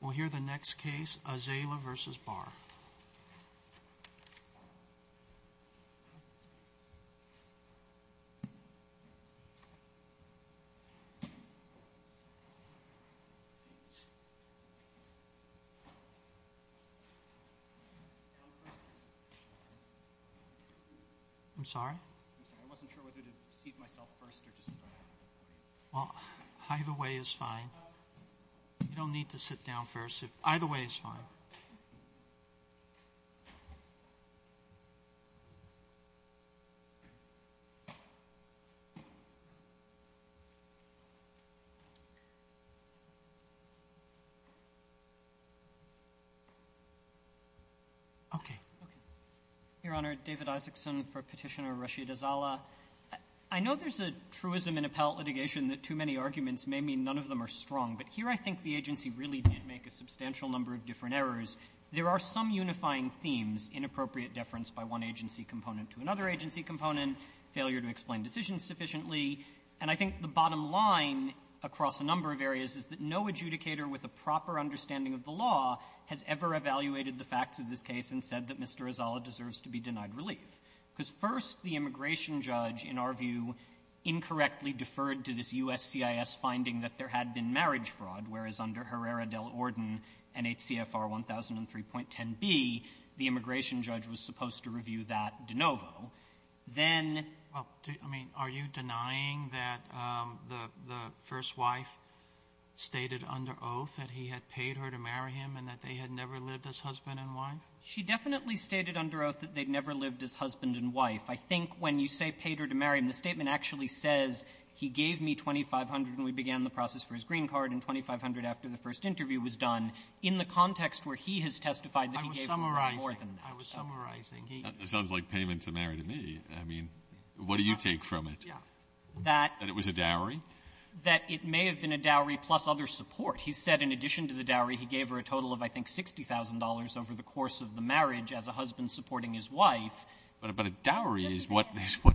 We'll hear the next case, Azala v. Barr. I'm sorry? I wasn't sure whether to seat myself first or just start. Well, either way is fine. You don't need to sit down first. Either way is fine. Okay. Okay. Your Honor, David Isaacson for Petitioner Rashida-Azala. I know there's a truism in appellate litigation that too many arguments may mean none of them are strong, but here I think the agency really did make a substantial number of different errors. There are some unifying themes, inappropriate deference by one agency component to another agency component, failure to explain decisions sufficiently, and I think the bottom line across a number of areas is that no adjudicator with a proper understanding of the law has ever evaluated the facts of this case and said that Mr. Azala deserves to be denied relief. Because first, the immigration judge, in our view, incorrectly deferred to this U.S. CIS finding that there had been marriage fraud, whereas under Herrera del Orden NHCFR 1003.10b, the immigration judge was supposed to review that de novo. Then the first wife stated under oath that he had paid her to marry him and that they had never lived as husband and wife. She definitely stated under oath that they'd never lived as husband and wife. I think when you say paid her to marry him, the statement actually says he gave me $2,500 when we began the process for his green card and $2,500 after the first interview was done in the context where he has testified that he gave her more than that. I was summarizing. I was summarizing. It sounds like payment to marry to me. I mean, what do you take from it? That it was a dowry? That it may have been a dowry plus other support. He said in addition to the dowry, he gave her a total of, I think, $60,000 over the course of the marriage as a husband supporting his wife. But a dowry is what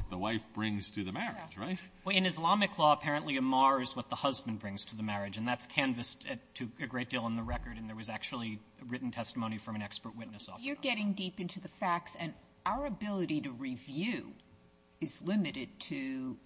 the wife brings to the marriage, right? In Islamic law, apparently a mar is what the husband brings to the marriage. And that's canvassed to a great deal in the record. And there was actually written testimony from an expert witness. You're getting deep into the facts. And our ability to review is limited to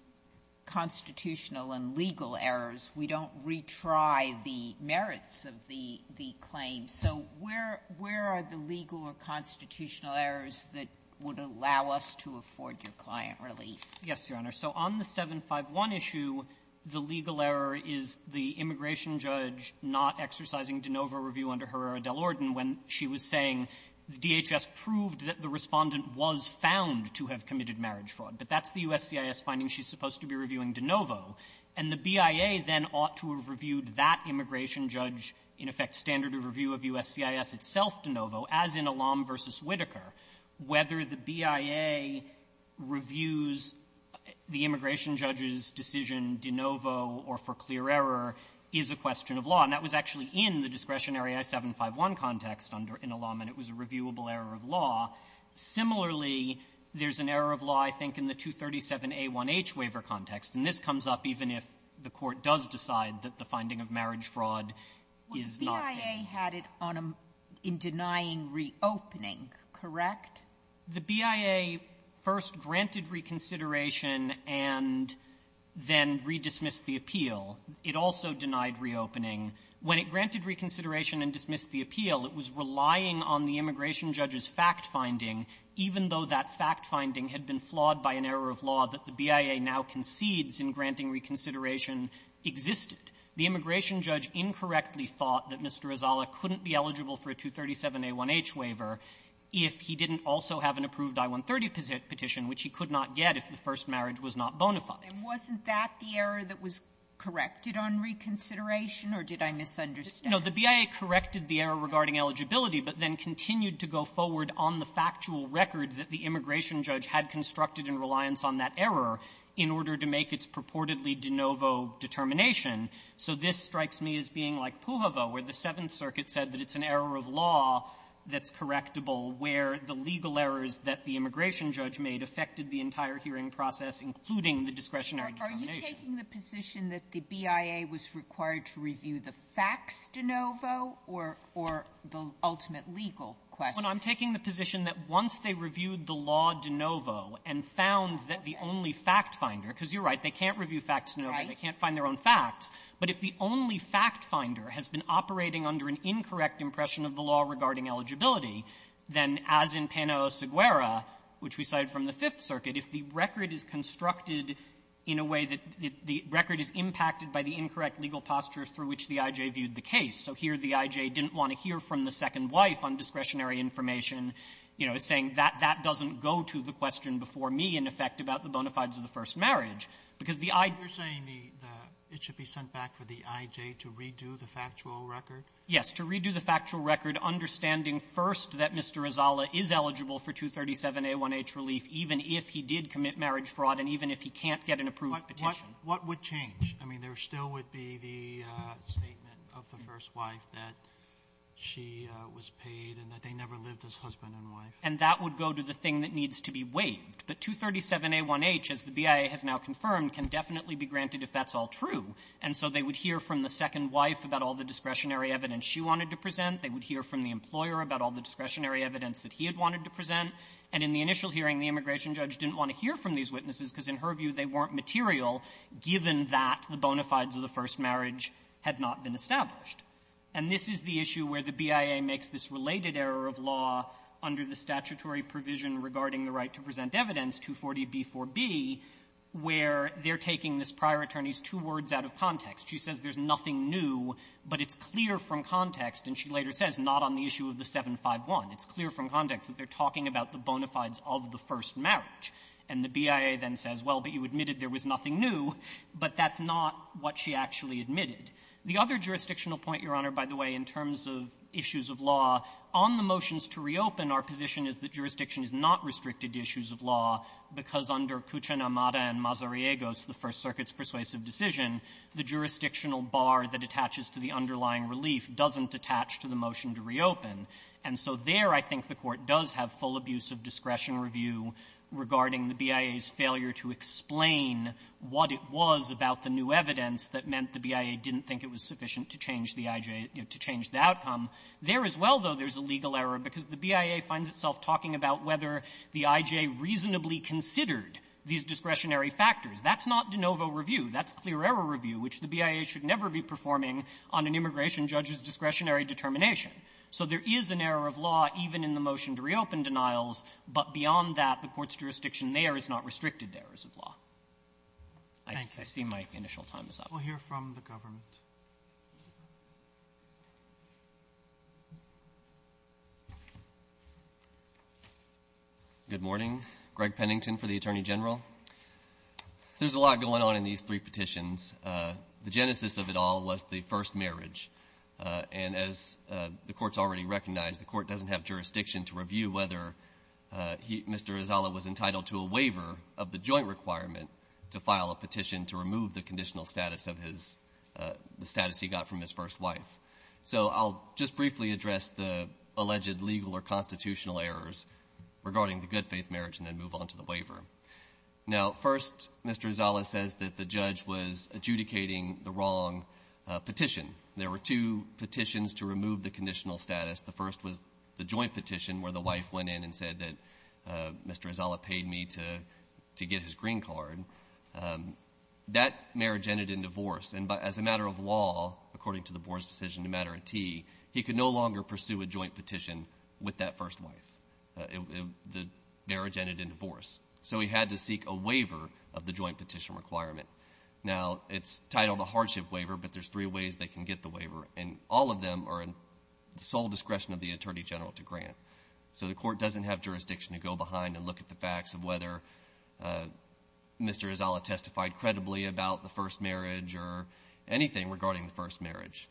constitutional and legal errors. We don't retry the merits of the claim. So where are the legal or constitutional errors that would allow us to afford your client relief? Yes, Your Honor. So on the 751 issue, the legal error is the immigration judge not exercising de novo review under Herrera del Orden when she was saying the DHS proved that the Respondent was found to have committed marriage fraud. But that's the USCIS finding she's supposed to be reviewing de novo. And the BIA then ought to have reviewed that immigration judge, in effect, standard of review of USCIS itself de novo, as in Alam v. Whitaker. Whether the BIA reviews the immigration judge's decision de novo or for clear error is a question of law. And that was actually in the discretionary I-751 context under Alam, and it was a reviewable error of law. Similarly, there's an error of law, I think, in the 237a1h waiver context. And this comes up even if the Court does decide that the finding of marriage fraud is not there. But the BIA had it on a — in denying reopening, correct? The BIA first granted reconsideration and then redismissed the appeal. It also denied reopening. When it granted reconsideration and dismissed the appeal, it was relying on the immigration judge's fact-finding, even though that fact-finding had been flawed by an error of law that the BIA now concedes in granting reconsideration existed. The immigration judge incorrectly thought that Mr. Azala couldn't be eligible for a 237a1h waiver if he didn't also have an approved I-130 petition, which he could not get if the first marriage was not bona fide. And wasn't that the error that was corrected on reconsideration, or did I misunderstand? No. The BIA corrected the error regarding eligibility, but then continued to go forward on the factual record that the immigration judge had constructed in reliance on that error in order to make its purportedly de novo determination. So this strikes me as being like Pujovo, where the Seventh Circuit said that it's an error of law that's correctable, where the legal errors that the immigration judge made affected the entire hearing process, including the discretionary determination. Sotomayor, are you taking the position that the BIA was required to review the facts de novo or the ultimate legal question? I'm taking the position that once they reviewed the law de novo and found that the only fact-finder, because you're right, they can't review facts de novo, they can't find their own facts, but if the only fact-finder has been operating under an incorrect impression of the law regarding eligibility, then, as in Pano Seguera, which we cited from the Fifth Circuit, if the record is constructed in a way that the record is impacted by the incorrect legal posture through which the I.J. viewed the case, so here the second wife on discretionary information, you know, is saying that that doesn't go to the question before me, in effect, about the bona fides of the first marriage. Because the I --- You're saying the the -- it should be sent back for the I.J. to redo the factual record? Yes. To redo the factual record, understanding first that Mr. Izala is eligible for 237 A1H relief, even if he did commit marriage fraud and even if he can't get an approved petition. What would change? I mean, there still would be the statement of the first wife that she was paid and that they never lived as husband and wife. And that would go to the thing that needs to be waived. But 237 A1H, as the BIA has now confirmed, can definitely be granted if that's all true. And so they would hear from the second wife about all the discretionary evidence she wanted to present. They would hear from the employer about all the discretionary evidence that he had wanted to present. And in the initial hearing, the immigration judge didn't want to hear from these witnesses because, in her view, they weren't material given that the bona fides of the first marriage had not been established. And this is the issue where the BIA makes this related error of law under the statutory provision regarding the right to present evidence, 240b4b, where they're taking this prior attorney's two words out of context. She says there's nothing new, but it's clear from context, and she later says not on the issue of the 751, it's clear from context that they're talking about the bona fides of the first marriage. And the BIA then says, well, but you admitted there was nothing new, but that's not what she actually admitted. The other jurisdictional point, Your Honor, by the way, in terms of issues of law, on the motions to reopen, our position is that jurisdiction is not restricted to issues of law because under Cucinamada and Mazariegos, the First Circuit's persuasive decision, the jurisdictional bar that attaches to the underlying relief doesn't attach to the motion to reopen. And so there, I think the Court does have full abuse of discretion review regarding the BIA's failure to explain what it was about the new evidence that meant the BIA didn't think it was sufficient to change the I.J. to change the outcome. There as well, though, there's a legal error because the BIA finds itself talking about whether the I.J. reasonably considered these discretionary factors. That's not de novo review. That's clear error review, which the BIA should never be performing on an immigration judge's discretionary determination. So there is an error of law even in the motion to reopen denials, but beyond that, the Court's jurisdiction there is not restricted to errors of law. Thank you. I see my initial time is up. We'll hear from the government. Good morning. Greg Pennington for the Attorney General. There's a lot going on in these three petitions. The genesis of it all was the first marriage. And as the Court's already recognized, the Court doesn't have jurisdiction to review whether Mr. Izala was entitled to a waiver of the joint requirement to file a petition to remove the conditional status of his — the status he got from his first wife. So I'll just briefly address the alleged legal or constitutional errors regarding the good-faith marriage and then move on to the waiver. Now, first, Mr. Izala says that the judge was adjudicating the wrong petition. There were two petitions to remove the conditional status. The first was the joint petition where the wife went in and said that Mr. Izala paid me to get his green card. That marriage ended in divorce. And as a matter of law, according to the Board's decision, a matter of tea, he could no longer pursue a joint petition with that first wife. The marriage ended in divorce. So he had to seek a waiver of the joint petition requirement. Now, it's titled a hardship waiver, but there's three ways they can get the waiver. And all of them are in the full discretion of the Attorney General to grant. So the Court doesn't have jurisdiction to go behind and look at the facts of whether Mr. Izala testified credibly about the first marriage or anything regarding the first marriage.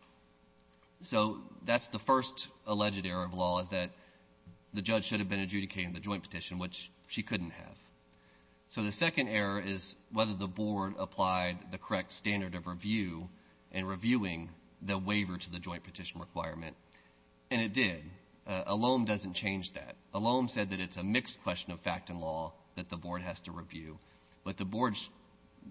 So that's the first alleged error of law, is that the judge should have been adjudicating the joint petition, which she couldn't have. So the second error is whether the Board applied the correct standard of review in reviewing the waiver to the joint petition requirement. And it did. Elom doesn't change that. Elom said that it's a mixed question of fact and law that the Board has to review. But the Board's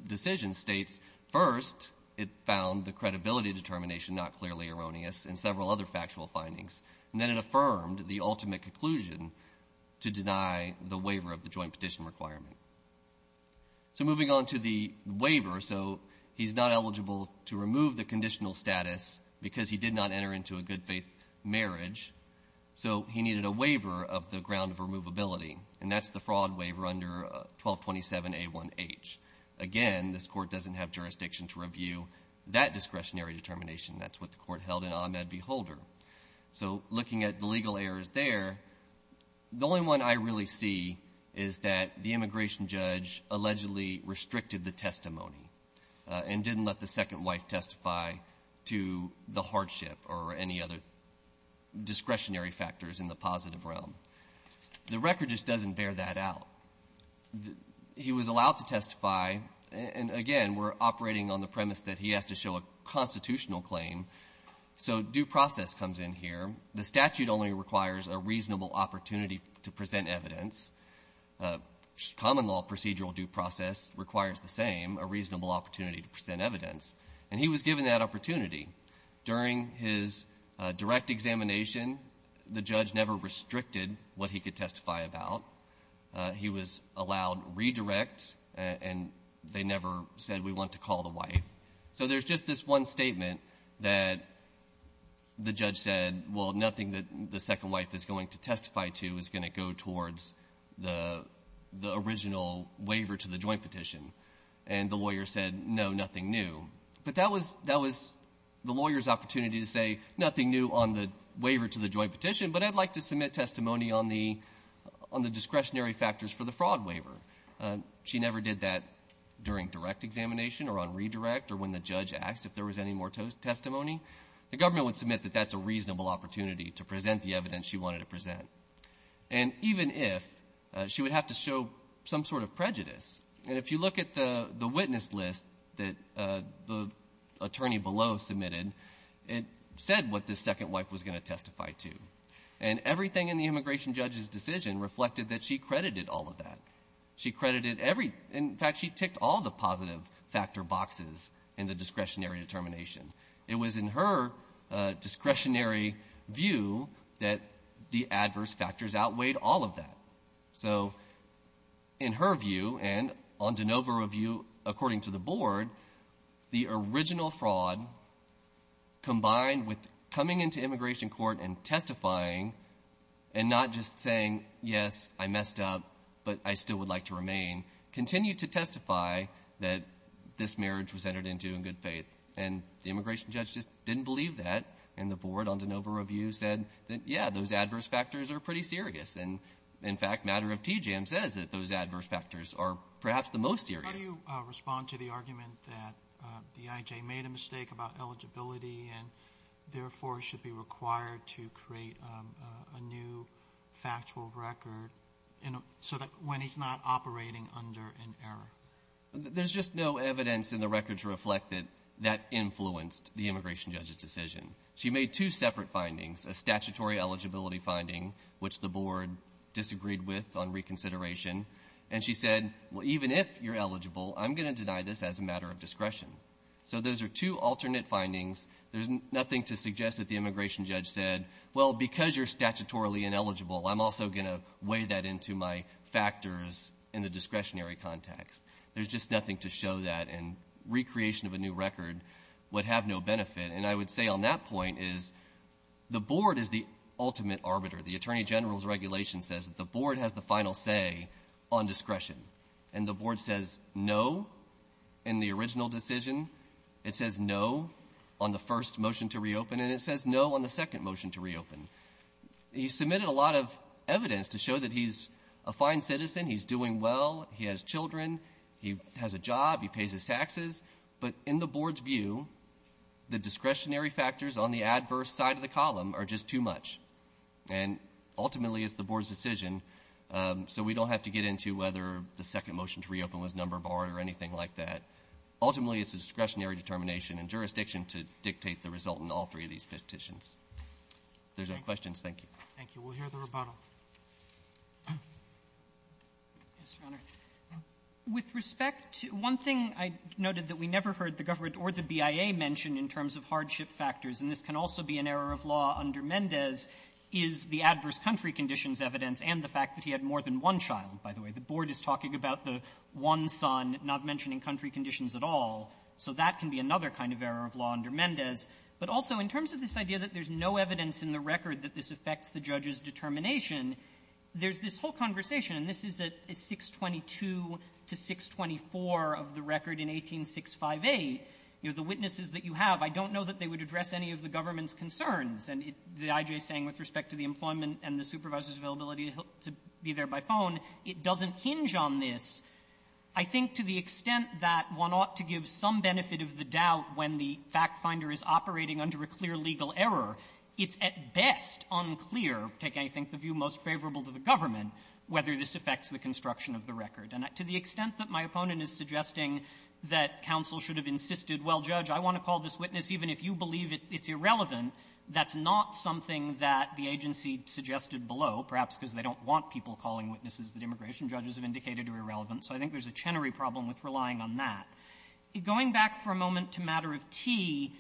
decision states, first, it found the credibility determination not clearly erroneous and several other factual findings. And then it affirmed the ultimate conclusion to deny the waiver of the joint petition requirement. So moving on to the waiver. So he's not eligible to remove the conditional status because he did not enter into a good faith marriage. So he needed a waiver of the ground of removability. And that's the fraud waiver under 1227A1H. Again, this Court doesn't have jurisdiction to review that discretionary determination. That's what the Court held in Ahmed v. Holder. So looking at the legal errors there, the only one I really see is that the immigration judge allegedly restricted the testimony and didn't let the second wife testify to the hardship or any other discretionary factors in the positive realm. The record just doesn't bear that out. He was allowed to testify. And again, we're operating on the premise that he has to show a constitutional claim. So due process comes in here. The statute only requires a reasonable opportunity to present evidence. Common law procedural due process requires the same, a reasonable opportunity to present evidence. And he was given that opportunity. During his direct examination, the judge never restricted what he could testify about. He was allowed redirect. And they never said, we want to call the wife. So there's just this one statement that the judge said, well, nothing that the second wife is going to testify to is going to go towards the original waiver to the joint petition. And the lawyer said, no, nothing new. But that was the lawyer's opportunity to say, nothing new on the waiver to the joint petition, but I'd like to submit testimony on the discretionary factors for the fraud waiver. She never did that during direct examination or on redirect or when the judge asked if there was any more testimony. The government would submit that that's a reasonable opportunity to present the evidence she wanted to present. And even if, she would have to show some sort of prejudice. And if you look at the witness list that the attorney below submitted, it said what the second wife was going to testify to. And everything in the immigration judge's decision reflected that she credited all of that. She credited every, in fact, she ticked all the positive factor boxes in the discretionary determination. It was in her discretionary view that the adverse factors outweighed all of that. So in her view and on DeNova review, according to the board, the original fraud combined with coming into immigration court and testifying and not just saying, yes, I messed up, but I still would like to remain, continued to testify that this marriage was entered into in good faith. And the immigration judge just didn't believe that. And the board on DeNova review said that, yeah, those adverse factors are pretty serious. And in fact, Matter of TJAM says that those adverse factors are perhaps the most serious. How do you respond to the argument that the IJ made a mistake about eligibility and therefore should be required to create a new factual record so that when he's not operating under an error? There's just no evidence in the records reflected that influenced the immigration judge's decision. She made two separate findings, a statutory eligibility finding, which the board disagreed with on reconsideration. And she said, well, even if you're eligible, I'm going to deny this as a matter of discretion. So those are two alternate findings. There's nothing to suggest that the immigration judge said, well, because you're statutorily ineligible, I'm also going to weigh that into my factors in the discretionary context. There's just nothing to show that. And recreation of a new record would have no benefit. And I would say on that point is the board is the ultimate arbiter. The Attorney General's regulation says that the board has the final say on discretion. And the board says no in the original decision. It says no on the first motion to reopen, and it says no on the second motion to reopen. He submitted a lot of evidence to show that he's a fine citizen, he's doing well, he has children, he has a job, he pays his taxes. But in the board's view, the discretionary factors on the adverse side of the column are just too much. And ultimately, it's the board's decision. So we don't have to get into whether the second motion to reopen was number barred or anything like that. Ultimately, it's a discretionary determination and jurisdiction to dictate the result in all three of these petitions. If there's no questions, thank you. Roberts. Yes, Your Honor. With respect to one thing I noted that we never heard the government or the BIA mention in terms of hardship factors, and this can also be an error of law under Mendez, is the adverse country conditions evidence and the fact that he had more than one child, by the way. The board is talking about the one son, not mentioning country conditions at all. So that can be another kind of error of law under Mendez. But also, in terms of this idea that there's no evidence in the record that this affects the judge's determination, there's this whole conversation, and this is a 622 to 624 of the record in 18658. You know, the witnesses that you have, I don't know that they would address any of the government's concerns. And the I.J. is saying with respect to the employment and the supervisor's availability to be there by phone, it doesn't hinge on this. I think to the extent that one ought to give some benefit of the doubt when the fact finder is operating under a clear legal error, it's at best unclear, taking I think the view most favorable to the government, whether this affects the construction of the record. And to the extent that my opponent is suggesting that counsel should have insisted, well, Judge, I want to call this witness even if you believe it's irrelevant, that's not something that the agency suggested below, perhaps because they don't want people calling witnesses that immigration judges have indicated are irrelevant. So I think there's a Chenery problem with relying on that. Going back for a moment to matter of T,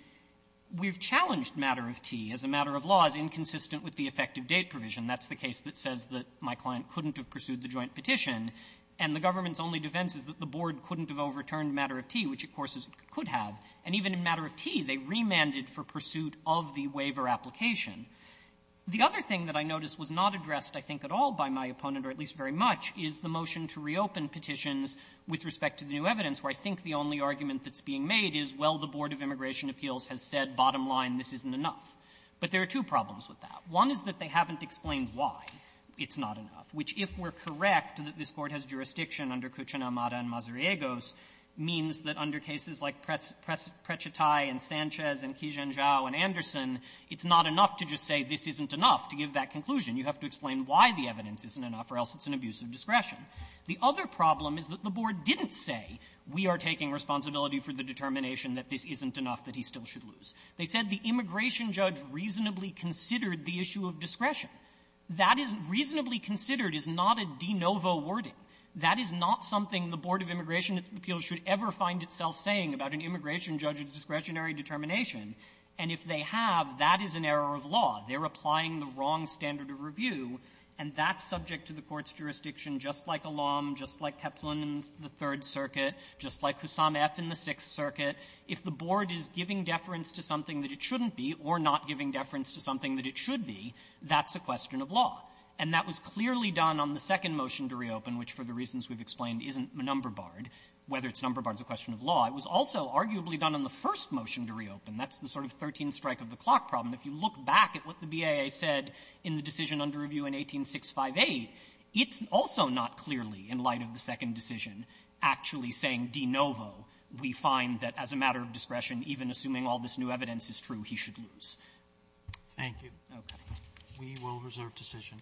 we've challenged matter of T as a matter of law as inconsistent with the effective date provision. That's the case that says that my client couldn't have pursued the joint petition, and the government's only defense is that the board couldn't have overturned matter of T, which, of course, it could have. And even in matter of T, they remanded for pursuit of the waiver application. The other thing that I noticed was not addressed, I think, at all by my opponent, or at least very much, is the motion to reopen petitions with respect to the new evidence, where I think the only argument that's being made is, well, the Board of Immigration Appeals has said, bottom line, this isn't enough. But there are two problems with that. One is that they haven't explained why it's not enough, which, if we're correct that this Court has jurisdiction under Cucina, Amada, and Mazariegos, means that under cases like Precetay and Sanchez and Kijanjau and Anderson, it's not enough to just say this isn't enough to give that conclusion. You have to explain why the evidence isn't enough, or else it's an abuse of discretion. The other problem is that the board didn't say, we are taking responsibility for the determination that this isn't enough, that he still should lose. They said the immigration judge reasonably considered the issue of discretion. That is reasonably considered is not a de novo wording. That is not something the Board of Immigration Appeals should ever find itself saying about an immigration judge's discretionary determination. And if they have, that is an error of law. They're applying the wrong standard of review, and that's subject to the Court's jurisdiction, just like Elam, just like Kaplan in the Third Circuit, just like Kusam F in the Sixth Circuit. If the board is giving deference to something that it shouldn't be or not giving deference to something that it should be, that's a question of law. And that was clearly done on the second motion to reopen, which, for the reasons we've explained, isn't number-barred. Whether it's number-barred is a question of law. It was also, arguably, done on the first motion to reopen. That's the sort of 13-strike-of-the-clock problem. If you look back at what the BAA said in the decision under review in 18658, it's also not clearly, in light of the second decision, actually saying de novo. We find that as a matter of discretion, even assuming all this new evidence is true, he should lose. Roberts. We will reserve decision.